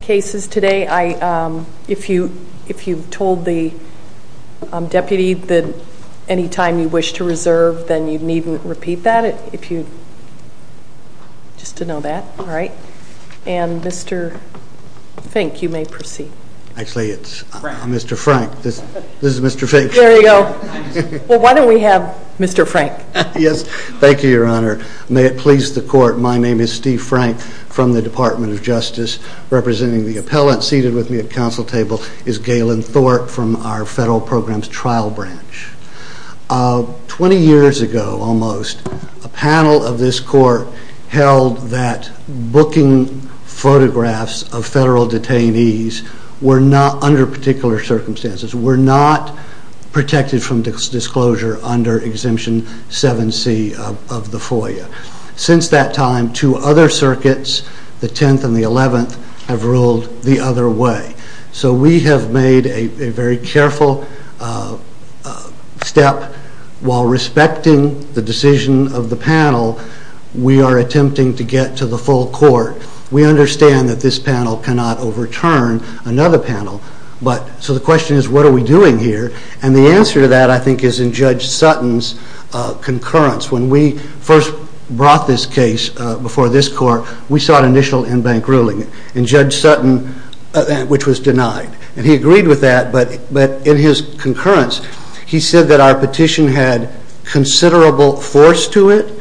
cases today. If you've told the deputy that any time you wish to reserve, then you needn't repeat that, just to know that. All right. And Mr. Fink, you may proceed. Actually, it's Mr. Frank. This is Mr. Fink. There you go. Well, why don't we have Mr. Frank? Yes. Thank you, Your Honor. May it please the Court, my name is Steve Frank from the Department of Justice, representing the appellant. Seated with me at council table is Galen Thorpe from our Federal Programs Trial Branch. Twenty years ago, almost, a panel of this Court held that booking photographs of federal detainees were not, under particular circumstances, were not protected from disclosure under Exemption 7C of the FOIA. Since that time, two other courts, the 11th and the 11th, have ruled the other way. So we have made a very careful step while respecting the decision of the panel. We are attempting to get to the full court. We understand that this panel cannot overturn another panel. But, so the question is, what are we doing here? And the answer to that, I think, is in Judge Sutton's concurrence. When we first brought this case before this Court, we sought initial in-bank ruling. And Judge Sutton, which was denied, and he agreed with that, but in his concurrence, he said that our petition had considerable force to it,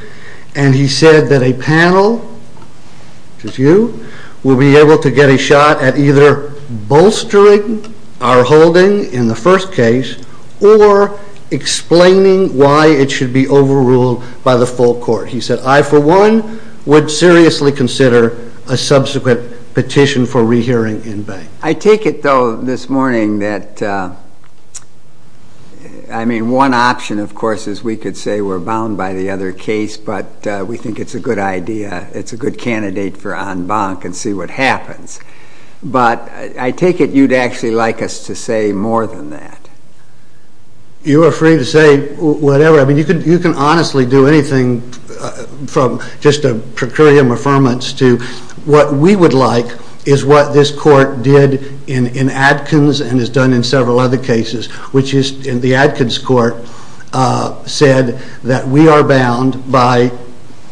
and he said that a panel, which is you, will be able to get a shot at either bolstering our holding in the first case, or explaining why it should be overruled by the full court. He said, I, for one, would seriously consider a subsequent petition for rehearing in-bank. I take it, though, this morning that, I mean, one option, of course, is we could say we're bound by the other case, but we think it's a good idea. It's a good candidate for en banc and see what happens. But I take it you'd actually like us to say more than that. You are free to say whatever. I mean, you can honestly do anything from just a precurium affirmance to what we would like is what this court did in Adkins and has done in several other cases, which is the Adkins court said that we are bound by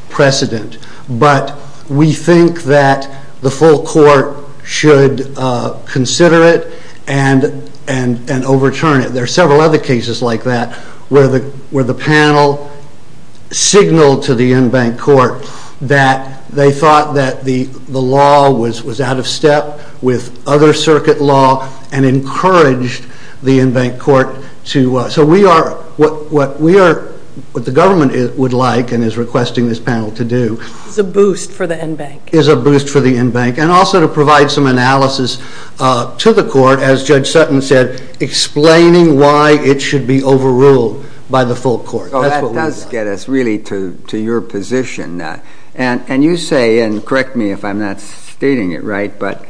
precedent, but we think that the full court should consider it and overturn it. There are several other cases like that where the panel signaled to the en banc court that they thought that the law was out of step with other circuit law and encouraged the en banc court to, so we are, what the government would like and is requesting this panel to do. Is a boost for the en banc. Is a boost for the en banc, and also to provide some analysis to the court, as Judge Sutton said, explaining why it should be overruled by the full court. So that does get us really to your position, and you say, and correct me if I'm not stating it right, but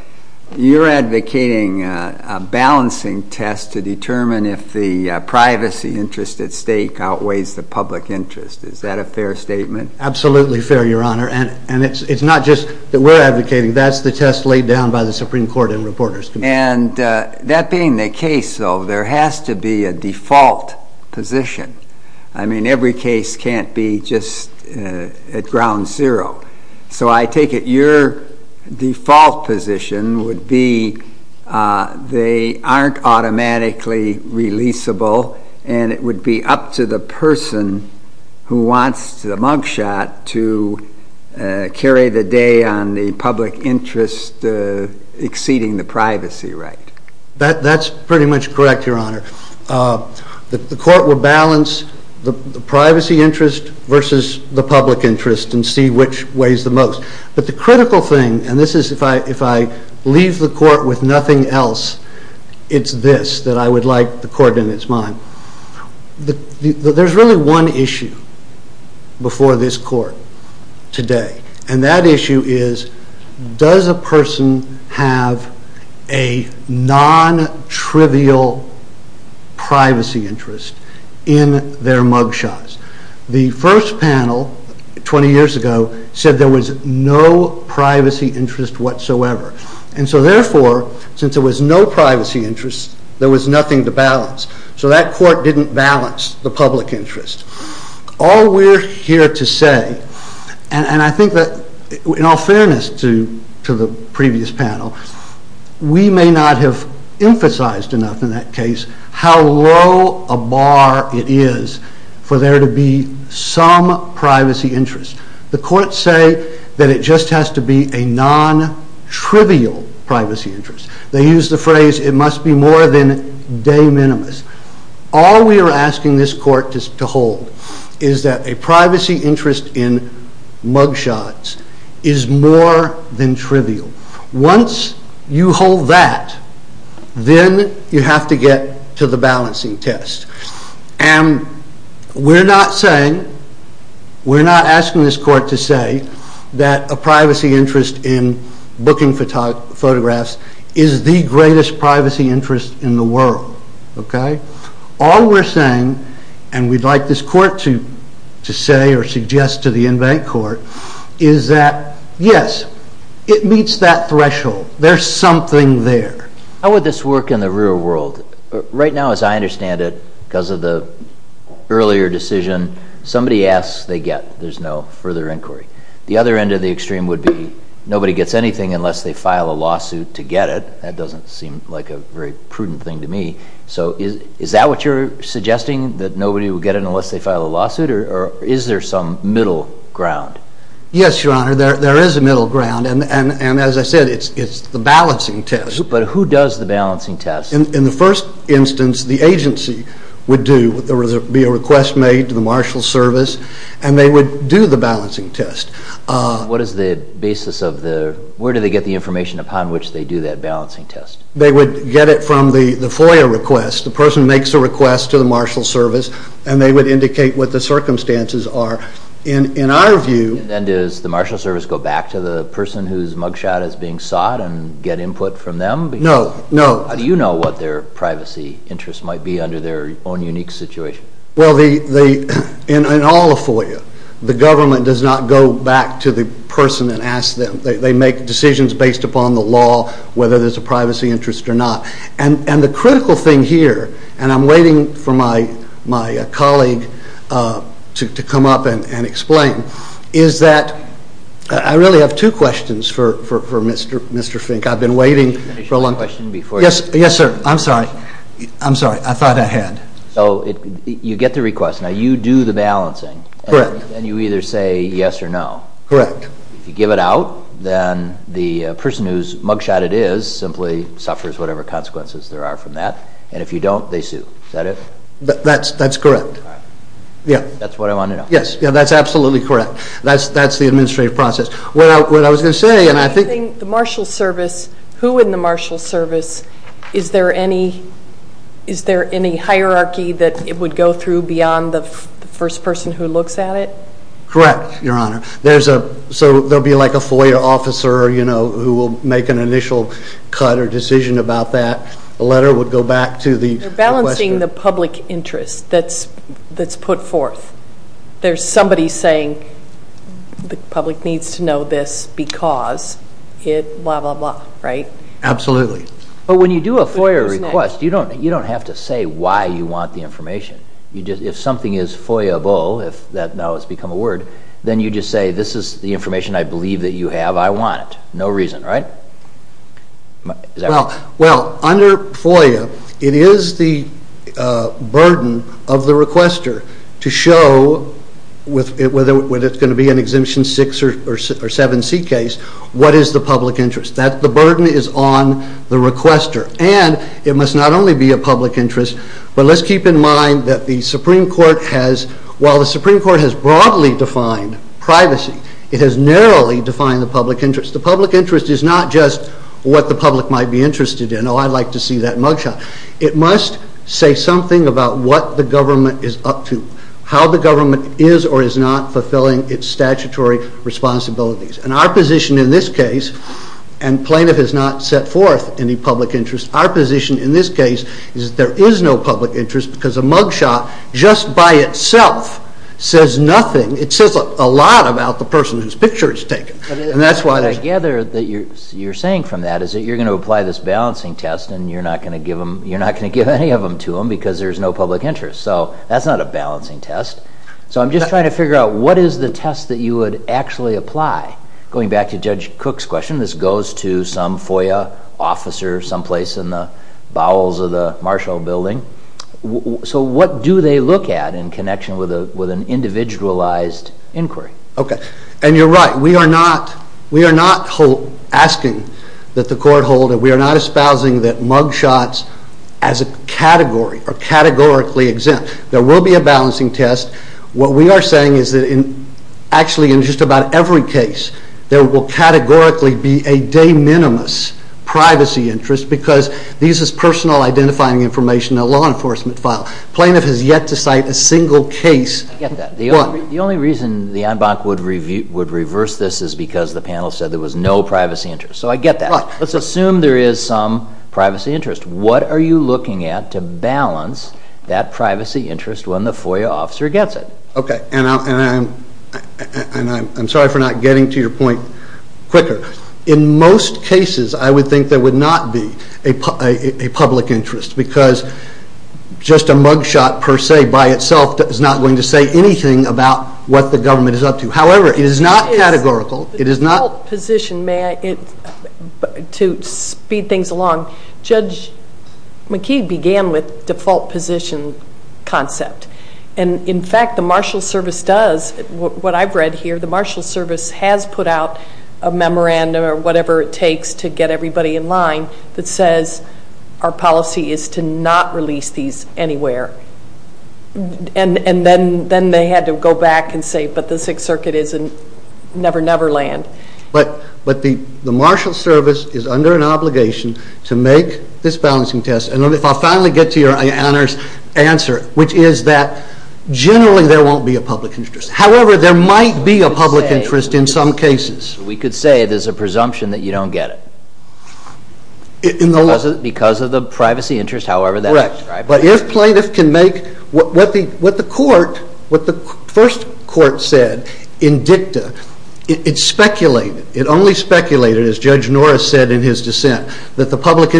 you're advocating a balancing test to determine if the privacy interest at stake outweighs the public interest. Is that a fair statement? Absolutely fair, Your Honor, and it's not just that we're advocating. That's the test laid down by the Supreme Court and reporters. And that being the case, though, there has to be a default position. I mean, every case can't be just at ground zero. So I take it your default position would be they aren't automatically releasable, and it would be up to the person who wants the mugshot to carry the day on the public interest of the exceeding the privacy right. That's pretty much correct, Your Honor. The court will balance the privacy interest versus the public interest and see which weighs the most. But the critical thing, and this is if I leave the court with nothing else, it's this that I would like the court in its mind. There's really one issue before this court today, and that issue is does a person have a non-trivial privacy interest in their mugshots? The first panel twenty years ago said there was no privacy interest whatsoever. And so therefore, since there was no privacy interest, there was nothing to balance. So that court didn't balance the privacy interest. In all fairness to the previous panel, we may not have emphasized enough in that case how low a bar it is for there to be some privacy interest. The courts say that it just has to be a non-trivial privacy interest. They use the phrase it must be more than de minimis. All we are asking this court to hold is that a privacy interest in mugshots is more than trivial. Once you hold that, then you have to get to the balancing test. And we're not saying, we're not asking this court to say that a privacy interest in booking photographs is the greatest privacy interest in the world. All we're saying, and we'd like this court to say or suggest to the in-bank court, is that yes, it meets that threshold. There's something there. How would this work in the real world? Right now, as I understand it, because of the earlier decision, somebody asks, they get. There's no further inquiry. The other end of the extreme would be nobody gets anything unless they file a lawsuit to get it. That doesn't seem like a very prudent thing to me. So is that what you're suggesting, that nobody would get it unless they file a lawsuit, or is there some middle ground? Yes, Your Honor, there is a middle ground, and as I said, it's the balancing test. But who does the balancing test? In the first instance, the agency would do, there would be a request made to the marshal service, and they would do the balancing test. What is the basis of the, where do they get the information upon which they do that balancing test? They would get it from the FOIA request. The person makes a request to the marshal service, and they would indicate what the circumstances are. In our view... And does the marshal service go back to the person whose mugshot is being sought and get input from them? No, no. Do you know what their privacy interests might be under their own unique situation? Well, in all of FOIA, the government does not go back to the person and ask them. They make decisions based upon the law, whether there's a privacy interest or not. And the critical thing here, and I'm waiting for my colleague to come up and explain, is that I really have two questions for Mr. Fink. I've been waiting for a long time. Can I ask you a question before you... Yes, sir. I'm sorry. I'm sorry. I thought I had. You get the request. Now, you do the balancing. Correct. And you either say yes or no. Correct. If you give it out, then the person whose mugshot it is simply suffers whatever consequences there are from that. And if you don't, they sue. Is that it? That's correct. All right. Yeah. That's what I wanted to know. Yes. Yeah, that's absolutely correct. That's the administrative process. What I was going to say, and I think... The marshal service, who in the marshal service, is there any hierarchy that it would go through beyond the first person who looks at it? Correct, Your Honor. There'll be like a FOIA officer who will make an initial cut or decision about that. The letter would go back to the requester. You're balancing the public interest that's put forth. There's somebody saying the public needs to know this because it blah, blah, blah, right? Absolutely. When you do a FOIA request, you don't have to say why you want the information. If something is FOIA-able, if that now has become a word, then you just say, this is the information I believe that you have. I want it. No reason, right? Well, under FOIA, it is the burden of the requester to show, whether it's going to be an Exemption 6 or 7C case, what is the public interest. The burden is on the requester. It must not only be a public interest, but let's keep in mind that the Supreme Court has, while the Supreme Court has broadly defined privacy, it has narrowly defined the public interest. The public interest is not just what the public might be interested in. Oh, I'd like to see that mugshot. It must say something about what the government is up to, how the government is or is not fulfilling its statutory responsibilities. Our position in this case, and plaintiff has not set forth any public interest, our position in this case is that there is no public interest because a mugshot, just by itself, says nothing. It says a lot about the person whose picture it's taken. I gather that you're saying from that is that you're going to apply this balancing test and you're not going to give any of them to them because there's no public interest. So that's not a balancing test. So I'm just trying to figure out, what is the test that you would actually apply? Going back to Judge Cook's question, this goes to some FOIA officer someplace in the bowels of the Marshall Building. So what do they look at in connection with an individualized inquiry? Okay, and you're right. We are not asking that the court hold, and we are not espousing that mugshots as a category are categorically exempt. There will be a balancing test. What we are saying is that actually in just about every case, there will categorically be a de minimis privacy interest because this is personal identifying information in a law enforcement file. Plaintiff has yet to cite a single case. I get that. The only reason the en banc would reverse this is because the panel said there was no privacy interest. So I get that. Let's assume there is some privacy interest. What are you looking at to balance that privacy interest when the FOIA officer gets it? Okay, and I'm sorry for not getting to your point quicker. In most cases, I would think there would not be a public interest because just a mugshot per se by itself is not going to say anything about what the government is up to. However, it is not categorical. It is not Default position, may I? To speed things along, Judge McKee began with default position concept. And in fact, the Marshall Service does. What I've read here, the Marshall Service has put out a memorandum or whatever it takes to get everybody in line that says our policy is to not release these anywhere. And then they had to go back and say, but the Sixth Circuit is in never, never land. But the Marshall Service is under an obligation to make this balancing test. And if I finally get to your answer, which is that generally there won't be a public interest. However, there might be a public interest in some cases. We could say there's a presumption that you don't get it. Because of the privacy interest, however that's described. Correct. But if plaintiff can make what the court, what the first court said in dicta, it speculated, it only speculated, as Judge Norris said in his dissent, that the public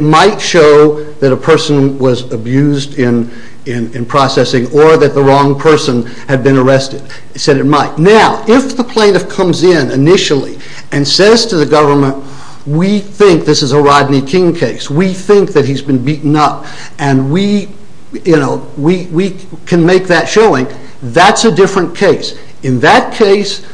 might show that a person was abused in processing or that the wrong person had been arrested. It said it might. Now, if the plaintiff comes in initially and says to the government, we think this is a Rodney King case. We think that he's been beaten up. And we, you know, we can make that showing. That's a different case. In that case,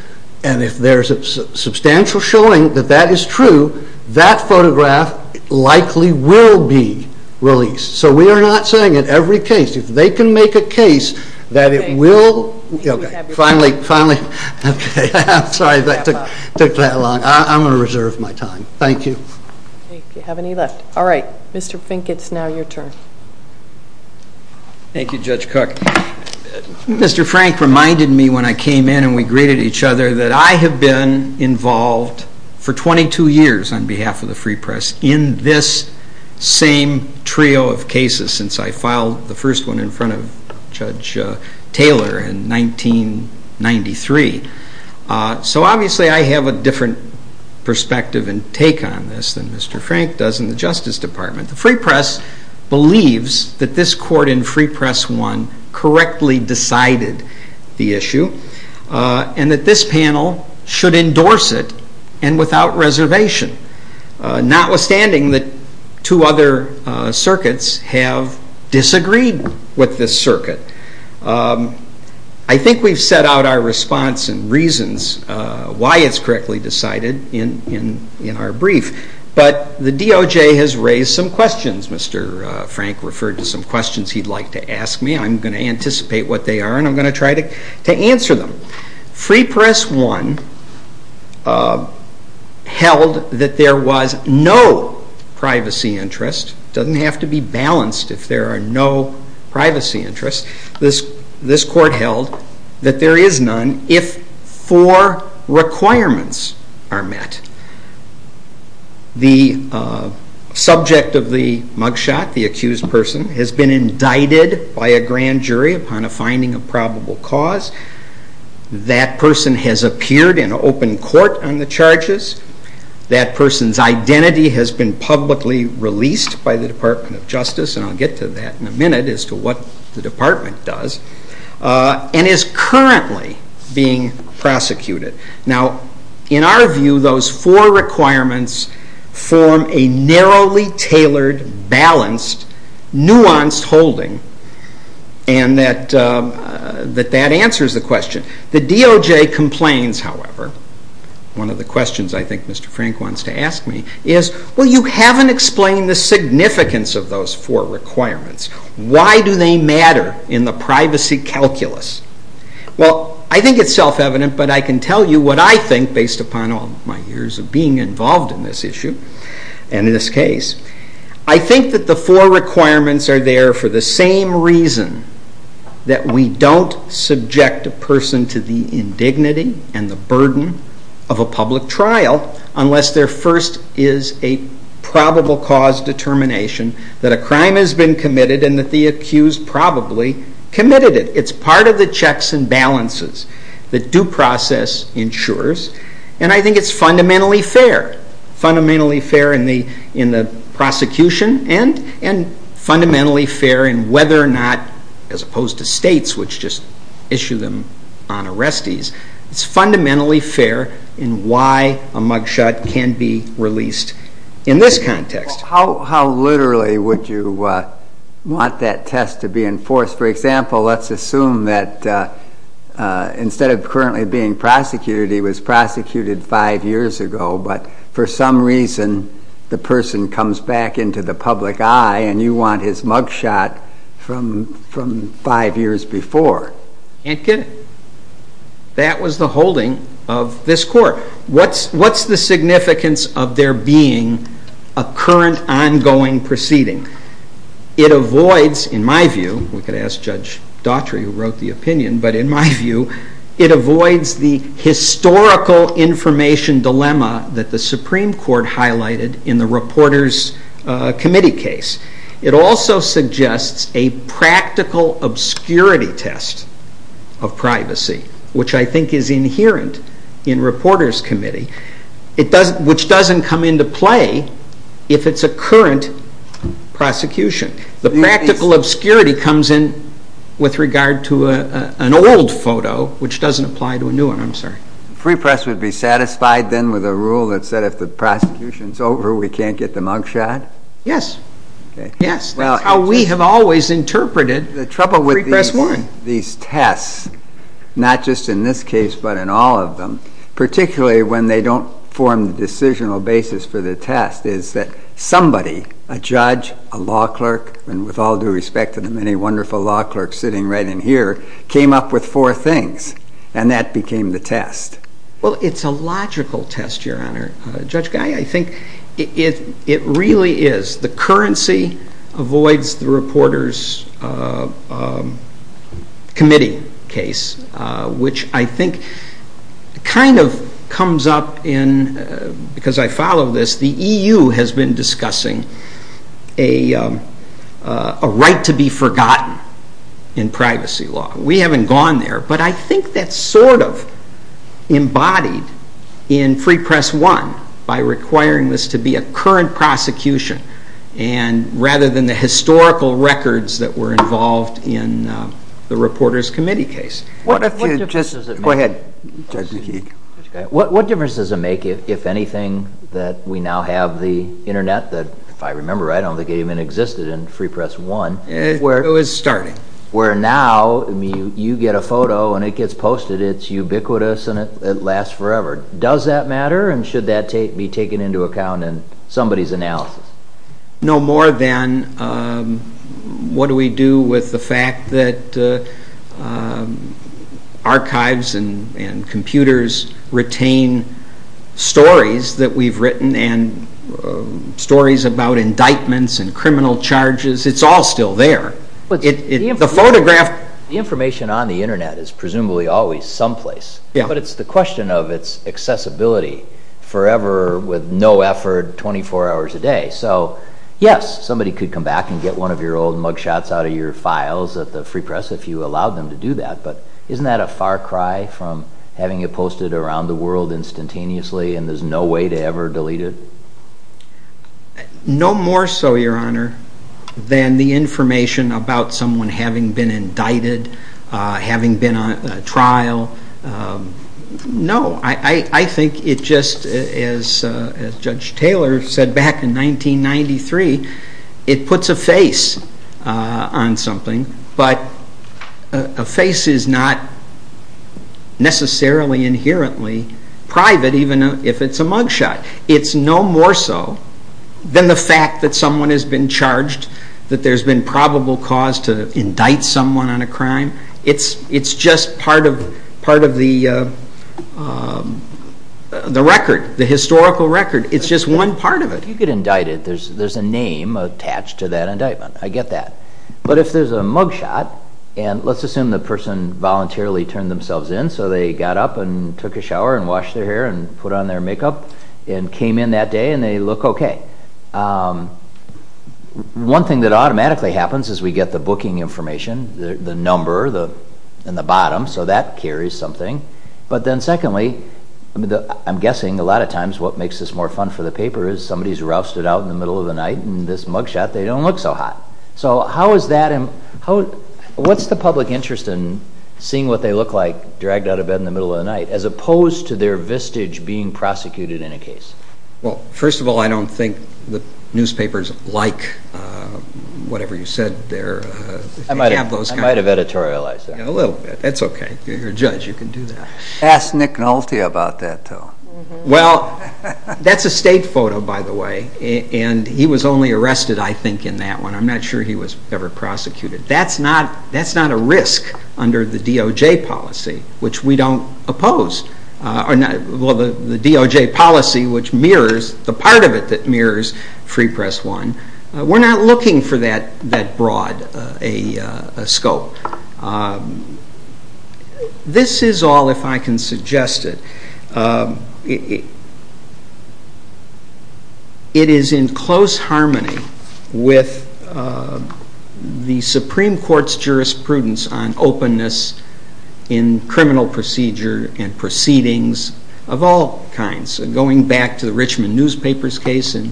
and if there's a substantial showing that that is true, that photograph likely will be released. So we are not saying in every case. If they can make a case that it will... Okay. Okay. Finally, finally. Okay. I'm sorry that took that long. I'm going to reserve my time. Thank you. Okay. If you have any left. All right. Mr. Fink, it's now your turn. Thank you, Judge Cook. Mr. Frank reminded me when I came in and we greeted each other that I have been involved for 22 years on behalf of the Free Press in this same trio of cases since I filed the first one in front of Judge Taylor in 1993. So obviously I have a different perspective and take on this than Mr. Frank does in the Justice Department. The Free Press believes that this court in Free Press One correctly decided the issue and that this panel should endorse it and without reservation, notwithstanding that two other circuits have disagreed with this circuit. I think we've set out our response and reasons why it's correctly decided in our brief, but the DOJ has raised some questions. Mr. Frank referred to some questions he'd like to ask me. I'm going to anticipate what they are and I'm going to try to answer them. Free Press One held that there was no privacy interest. It doesn't have to be balanced if there are no privacy interests. This court held that there is none if four requirements are met. The subject of the mugshot, the accused person, has been indicted by a grand jury upon a finding of probable cause. That person has appeared in open court on the charges. That person's identity has been publicly released by the Department of Justice, and I'll get to that in a minute as to what the department does, and is currently being prosecuted. Now, in our view, those four requirements form a narrowly tailored, balanced, nuanced holding, and that answers the question. The DOJ complains, however, one of the questions I think Mr. Frank wants to ask me is, well, you haven't explained the significance of those four requirements. Why do they matter in the privacy calculus? Well, I think it's self-evident, but I can tell you what I think based upon all my years of being involved in this issue and in this case. I think that the four requirements are there for the same reason, that we don't subject a person to the indignity and the burden of a public trial unless there first is a probable cause determination that a crime has been committed and that the accused probably committed it. It's part of the checks and fair, fundamentally fair in the prosecution and fundamentally fair in whether or not, as opposed to states which just issue them on arrestees, it's fundamentally fair in why a mugshot can be released in this context. How literally would you want that test to be enforced? For example, let's assume that instead of currently being prosecuted, he was prosecuted five years ago, but for some reason the person comes back into the public eye and you want his mugshot from five years before. Can't get it. That was the holding of this court. What's the significance of there being a current ongoing proceeding? It avoids, in my view, we could ask Judge Daughtry who wrote the opinion, but in my view, it avoids the historical information dilemma that the Supreme Court highlighted in the Reporters' Committee case. It also suggests a practical obscurity test of privacy, which I think is inherent in Reporters' Committee, which doesn't come into play if it's a current prosecution. The practical obscurity comes in with regard to an old photo, which doesn't apply to a new one. I'm sorry. Free press would be satisfied then with a rule that said if the prosecution's over, we can't get the mugshot? Yes. Yes. That's how we have always interpreted the free press warrant. These tests, not just in this case, but in all of them, particularly when they don't form the decisional basis for the test, is that somebody, a judge, a law clerk, and with all due respect to the many wonderful law clerks sitting right in here, came up with four things, and that became the test. It's a logical test, Your Honor. Judge Guy, I think it really is. The currency avoids the Reporters' Committee case, which I think kind of comes up in, because I follow this, the EU has been discussing a right to be forgotten in privacy law. We haven't gone there, but I think that's sort of embodied in Free Press 1 by requiring this to be a current prosecution, rather than the historical records that were involved in the Reporters' Committee case. What difference does it make, if anything, that we now have the internet that, if I remember right, I don't think even existed in Free Press 1. It was starting. Where now, you get a photo and it gets posted, it's ubiquitous and it lasts forever. Does that matter, and should that be taken into account in somebody's analysis? No more than, what do we do with the fact that archives and computers retain stories that we've written, and stories about indictments and criminal charges, it's all still there. The information on the internet is presumably always someplace, but it's the question of its accessibility, forever, with no effort, 24 hours a day. So, yes, somebody could come back and get one of your old mugshots out of your files at the Free Press if you allowed them to do that, but isn't that a far cry from having it posted around the world instantaneously and there's no way to ever delete it? No more so, Your Honor, than the information about someone having been indicted, having been on trial. No, I think it just, as Judge Taylor said back in 1993, it puts a face on something, but a face is not necessarily inherently private, even if it's a mugshot. It's no more so than the fact that someone has been charged, that there's been probable cause to indict someone on a crime. It's just part of the record, the historical record. It's just one part of it. If you get indicted, there's a name attached to that indictment. I get that. But if there's a mugshot, and let's assume the person voluntarily turned themselves in, so they got up and took a shower and washed their hair and put on their makeup and came in that day and they look okay. One thing that automatically happens is we get the booking information, the number and the bottom, so that carries something. But then secondly, I'm guessing a lot of times what makes this more fun for the paper is somebody's rousted out in the middle of the night in this mugshot, they don't look so hot. So how is that, what's the public interest in seeing what they look like dragged out of bed in the middle of the night, as opposed to the press? First of all, I don't think the newspapers like whatever you said there. I might have editorialized that. A little bit, that's okay. You're a judge, you can do that. Ask Nick Nolte about that, though. Well, that's a state photo, by the way, and he was only arrested, I think, in that one. I'm not sure he was ever prosecuted. That's not a risk under the DOJ policy, which we don't, which mirrors, the part of it that mirrors Free Press One, we're not looking for that broad a scope. This is all, if I can suggest it, it is in close harmony with the Supreme Court's jurisprudence on openness in criminal procedure and proceedings of all kinds. Going back to the Richmond newspapers case in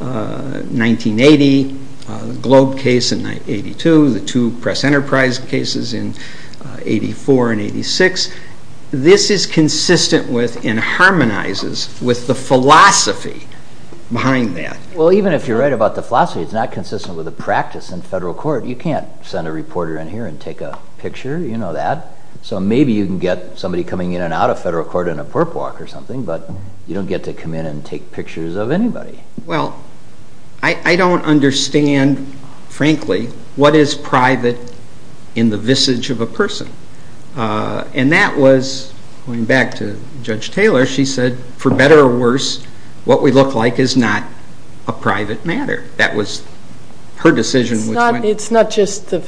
1980, the Globe case in 1982, the two press enterprise cases in 84 and 86, this is consistent with and harmonizes with the philosophy behind that. Well even if you're right about the philosophy, it's not consistent with the practice in federal court. You can't send a reporter in here and take a picture, you know that. So maybe you can get somebody coming in and out of federal court in a perp walk or something, but you don't get to come in and take pictures of anybody. Well, I don't understand, frankly, what is private in the visage of a person. And that was, going back to Judge Taylor, she said, for better or worse, what we look like is not a private matter. That was her decision. It's not just the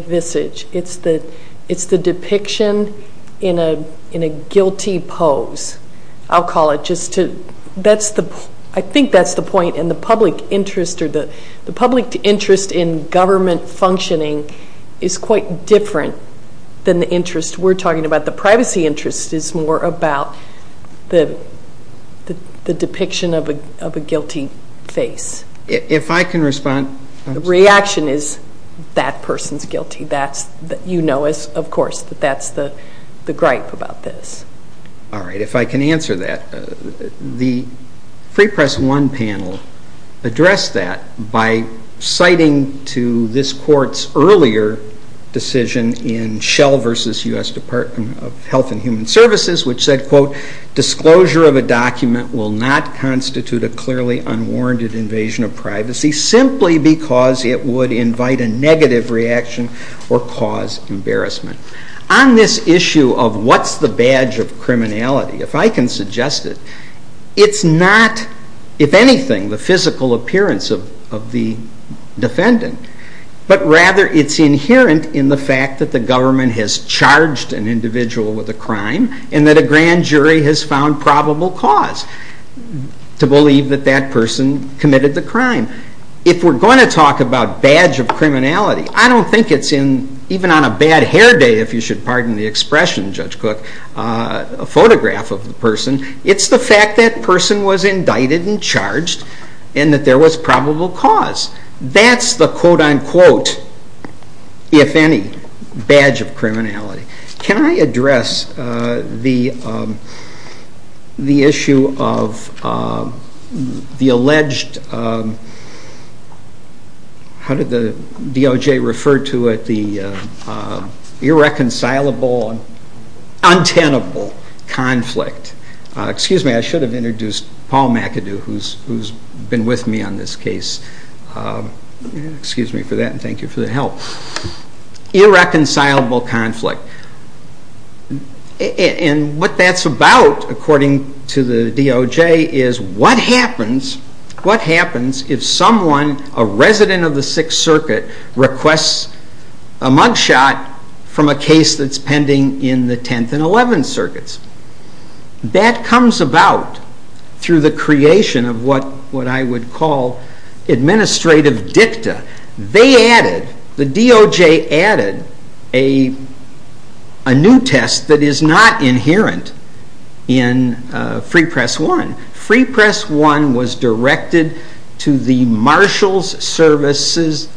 visage, it's the depiction in a guilty pose, I'll call it. I think that's the point, and the public interest in government functioning is quite different than the interest we're talking about. The privacy interest is more about the depiction of a guilty face. If I can respond... The reaction is, that person's guilty. You know, of course, that that's the gripe about this. All right, if I can answer that. The Free Press One panel addressed that by citing to this court's earlier decision in Schell v. U.S. Department of Health and Human Services, which said, quote, Disclosure of a document will not constitute a clearly unwarranted invasion of privacy, simply because it would invite a negative reaction or cause embarrassment. On this issue of what's the badge of criminality, if I can suggest it, it's not, if anything, the physical appearance of the defendant, but rather it's inherent in the fact that the government has charged an individual with a crime, and that a grand jury has found probable cause to believe that that person committed the crime. If we're going to talk about badge of criminality, I don't think it's even on a bad hair day, if you should pardon the expression, Judge Cook, a photograph of the person. It's the fact that person was indicted and charged, and that there was probable cause. That's the quote-unquote, if any, badge of criminality. Can I address the issue of the alleged, how did the DOJ refer to it, the irreconcilable, untenable conflict? Excuse me, I should have excused me for that, and thank you for the help. Irreconcilable conflict. And what that's about, according to the DOJ, is what happens if someone, a resident of the Sixth Circuit, requests a mugshot from a case that's pending in the Tenth and Eleventh Circuits? That comes about through the creation of what I would call administrative dicta. The DOJ added a new test that is not inherent in Free Press I. Free Press I was directed to the Marshals Services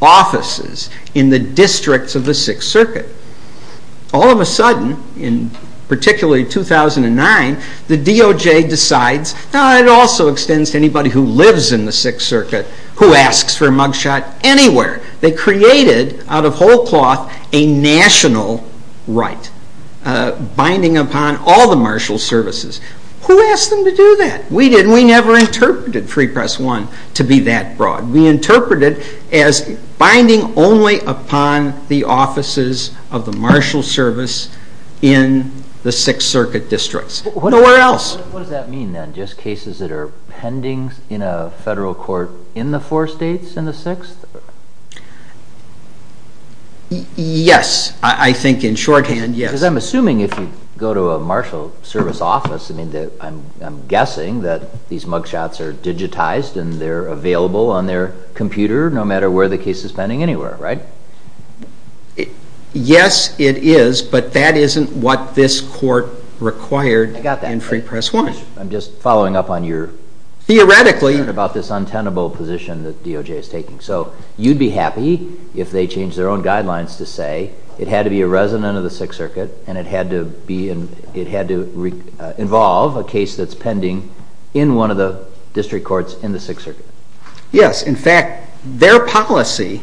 offices in the districts of the Sixth Circuit. All of a sudden, in particularly 2009, the DOJ decides, it also extends to anybody who lives in the Sixth Circuit who asks for a mugshot anywhere. They created, out of whole cloth, a national right, binding upon all the Marshals Services. Who asked them to do that? We didn't. We never interpreted Free Press I to be that broad. We interpreted it as binding only upon the offices of the Sixth Circuit districts. Nowhere else. What does that mean then? Just cases that are pending in a federal court in the four states in the Sixth? Yes, I think in shorthand, yes. Because I'm assuming if you go to a Marshals Service office, I'm guessing that these mugshots are digitized and they're available on their computer no matter where the case is pending anywhere, right? Yes, it is, but that isn't what this court required in Free Press I. I'm just following up on your... Theoretically...about this untenable position that DOJ is taking. So you'd be happy if they changed their own guidelines to say it had to be a resident of the Sixth Circuit and it had to involve a case that's pending in one of the district courts in the Sixth Circuit. Yes, in fact, their policy,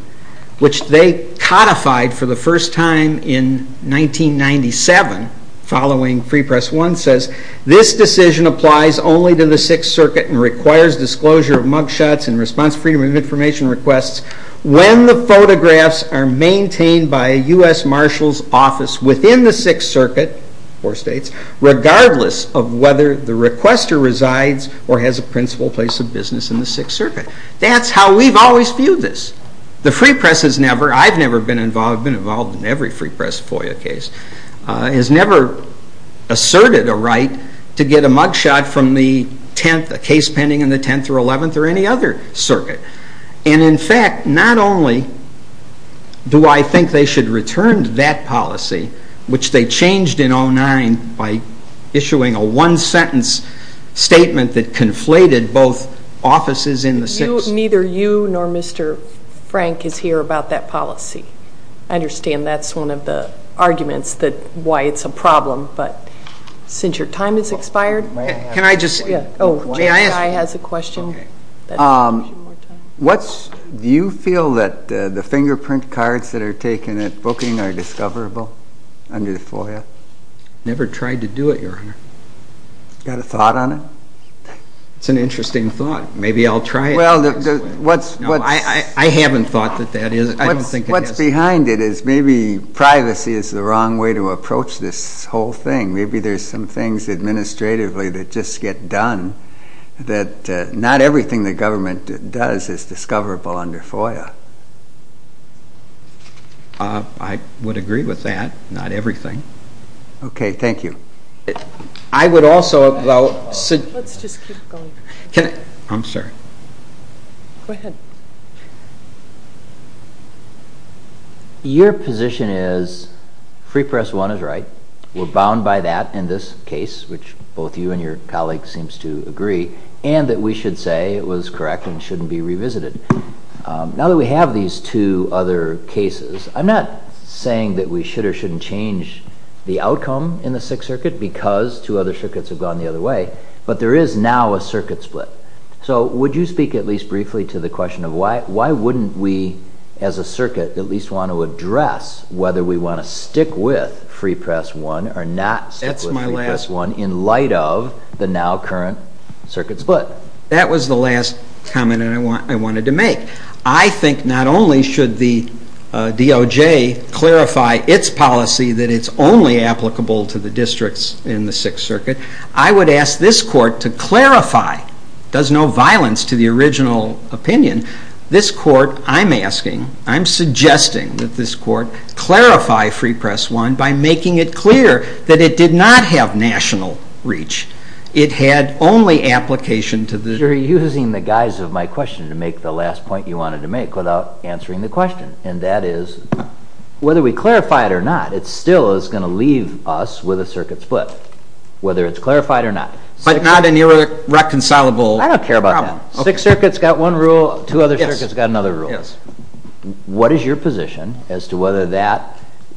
which they codified for the first time in 1997 following Free Press I, says this decision applies only to the Sixth Circuit and requires disclosure of mugshots and response freedom of information requests when the photographs are maintained by a U.S. Marshals office within the Sixth Circuit, four states, regardless of whether the requester resides or has a principal place of business in the Sixth Circuit. That's how we've always viewed this. The Free Press has never, I've never been involved in every Free Press FOIA case, has never asserted a right to get a mugshot from the 10th, a case pending in the 10th or 11th or any other circuit. And in fact, not only do I think they should have returned that policy, which they changed in 2009 by issuing a one-sentence statement that conflated both offices in the Sixth. You, neither you nor Mr. Frank is here about that policy. I understand that's one of the arguments that, why it's a problem, but since your time has expired... Can I just... Oh, Jay has a question. Do you feel that the fingerprint cards that are taken at booking are discoverable under the FOIA? Never tried to do it, Your Honor. Got a thought on it? It's an interesting thought. Maybe I'll try it. Well, what's... I haven't thought that that is, I don't think it is. What's behind it is maybe privacy is the wrong way to approach this whole thing. Maybe there's some things administratively that just get done that not everything the government does is discoverable under FOIA. I would agree with that. Not everything. Okay, thank you. I would also, though... Let's just keep going. I'm sorry. Go ahead. Your position is Free Press 1 is right. We're bound by that in this case, which both you and your colleague seems to agree, and that we should say it was correct and shouldn't be revisited. Now that we have these two other cases, I'm not saying that we should or shouldn't change the outcome in the Sixth Circuit because two other circuits have gone the other way, but there is now a circuit split. So would you speak at least briefly to the question of why wouldn't we, as a circuit, at least want to address whether we want to stick with Free Press 1 or not stick with Free Press 1 in light of the now current circuit split? That was the last comment I wanted to make. I think not only should the DOJ clarify its policy that it's only applicable to the districts in the Sixth Circuit, I would ask this Court to clarify, it does no violence to the original opinion, this Court, I'm asking, I'm suggesting that this Court clarify Free Press 1 by making it clear that it did not have national reach, it had only application to the district. You're using the guise of my question to make the last point you wanted to make without answering the question, and that is whether we clarify it or not, it still is going to leave us with a circuit split, whether it's clarified or not. But not an irreconcilable problem. I don't care about that. Sixth Circuit's got one rule, two other circuits got another rule. What is your position as to whether that,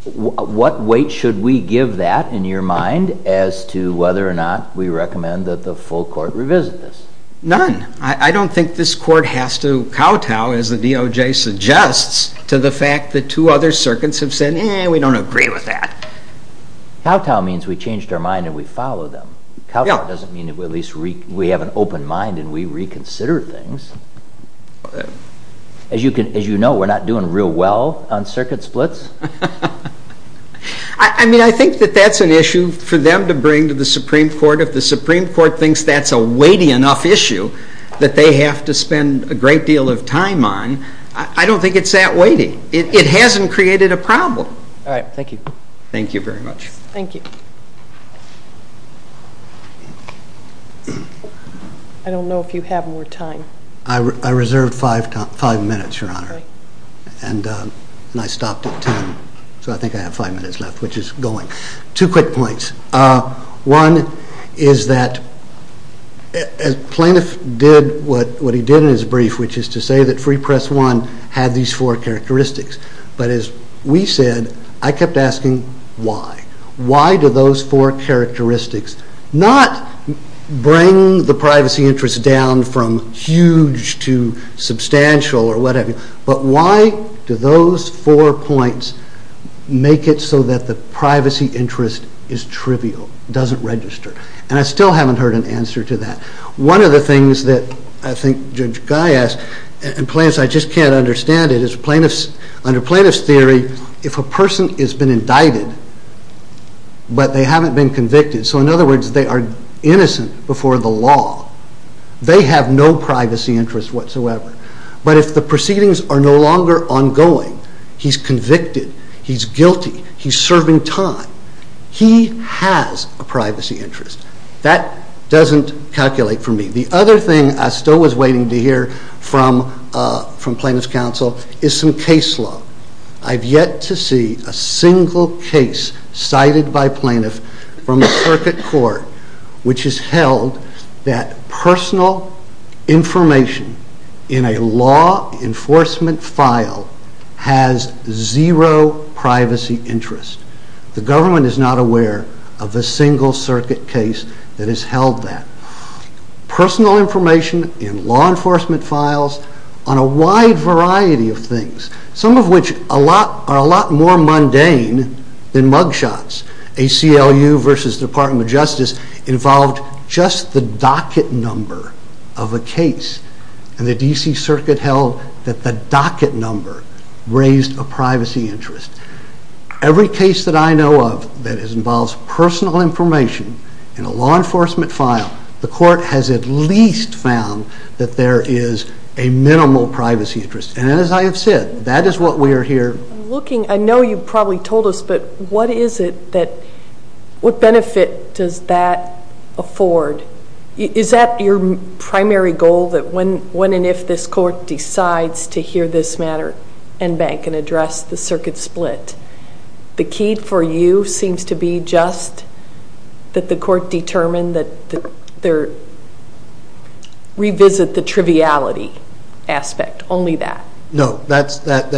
what weight should we give that in your mind as to whether or not we recommend that the full Court revisit this? None. I don't think this Court has to kowtow as the DOJ suggests to the fact that two other circuits have said, eh, we don't agree with that. Kowtow means we changed our mind and we follow them. Kowtow doesn't mean we have an open mind and we reconsider things. As you know, we're not doing real well on circuit splits. I mean, I think that that's an issue for them to bring to the Supreme Court. If the Supreme Court thinks that's a weighty enough issue that they have to spend a great deal of time on, I don't think it's that weighty. It hasn't created a problem. All right. Thank you. Thank you very much. Thank you. I don't know if you have more time. I reserved five minutes, Your Honor, and I stopped at ten, so I think I have five minutes left, which is going. Two quick points. One is that Plaintiff did what he did in his brief, which is to say that Free Press I had these four characteristics, but as we said, I kept asking why. Why do those four characteristics not bring the privacy interests down from huge to substantial or whatever? But why do those four points make it so that the privacy interest is trivial, doesn't register? And I still haven't heard an answer to that. One of the things that I think Judge Guy asked, and plaintiffs, I just can't understand it, is under plaintiff's theory, if a person has been indicted, but they haven't been convicted, so in other words, they are innocent before the law, they have no privacy interest whatsoever. But if the proceedings are no longer ongoing, he's convicted, he's guilty, he's serving time, he has a privacy interest. That doesn't calculate for me. The other thing I still was waiting to hear from Plaintiff's counsel is some case law. I've yet to see a single case cited by plaintiff from a circuit court which has held that personal information in a law enforcement file has zero privacy interest. The government is not aware of a single circuit case that has held that. Personal information in law enforcement files on a wide variety of things, some of which are a lot more mundane than mug shots. ACLU versus Department of Justice involved just the docket number of a case, and the DC Circuit held that the docket number raised a privacy interest. Every case that I know of that involves personal information in a law enforcement file, the court has at least found that there is a minimal privacy interest. And as I have said, that is what we are here... I'm looking, I know you probably told us, but what is it that, what benefit does that afford? Is that your primary goal that when and if this court decides to hear this matter and bank and address the circuit split, the key for you seems to be just that the court determine that they revisit the triviality aspect, only that? No, that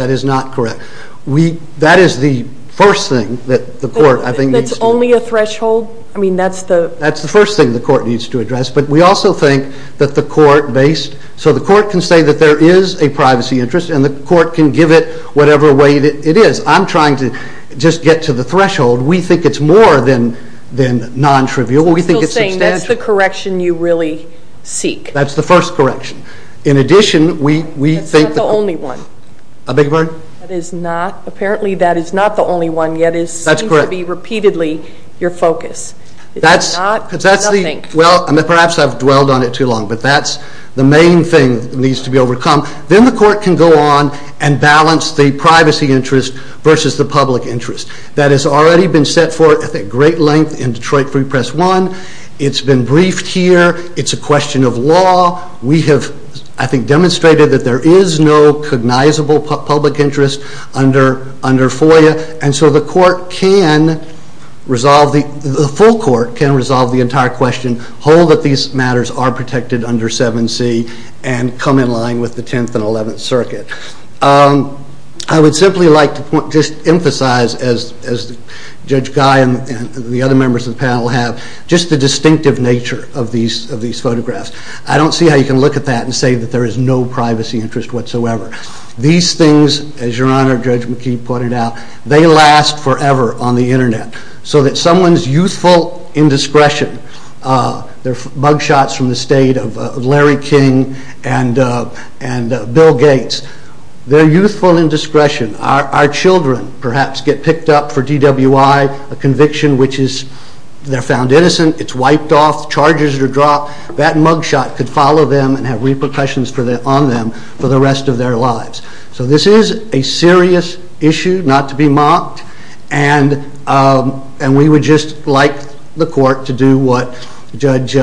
is not correct. That is the first thing that the court, I think... That's only a threshold? I mean that's the... That's the first thing the court needs to address, but we also think that the court based, so the court can say that there is a privacy interest and the court can give it whatever way it is. I'm trying to just get to the threshold. We think it's more than non-trivial. We think it's substantial. You're still saying that's the correction you really seek? That's the first correction. In addition, we think... That's not the only one? I beg your pardon? That is not, apparently that is not the only one, yet it seems to be repeatedly your focus. That's correct. It's not nothing. Well, perhaps I've dwelled on it too long, but that's the main thing that needs to be overcome. Then the court can go on and balance the privacy interest versus the public interest. That has already been set forth at great length in Detroit Free Press 1. It's been briefed here. It's a question of law. We have, I think, demonstrated that there is no cognizable public interest under FOIA, and so the court can resolve, the full court can resolve the entire question, hold that these matters are protected under 7C, and come in line with the 10th and as Judge Guy and the other members of the panel have, just the distinctive nature of these photographs. I don't see how you can look at that and say that there is no privacy interest whatsoever. These things, as Your Honor, Judge McKee pointed out, they last forever on the internet. So that someone's youthful indiscretion, they're bug shots from the state of Larry King and Bill Gates. They're youthful indiscretion. Our children, perhaps, get picked up for DWI, a conviction which is, they're found innocent, it's wiped off, charges are dropped. That mug shot could follow them and have repercussions on them for the rest of their lives. So this is a serious issue not to be mocked, and we would just like the court to do what Judge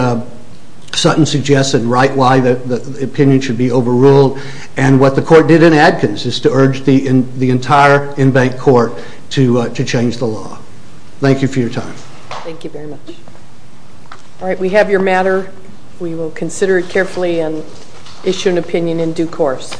Sutton suggested, right, why the opinion should be overruled. And what the court to change the law. Thank you for your time. Thank you very much. All right, we have your matter. We will consider it carefully and issue an opinion in due course.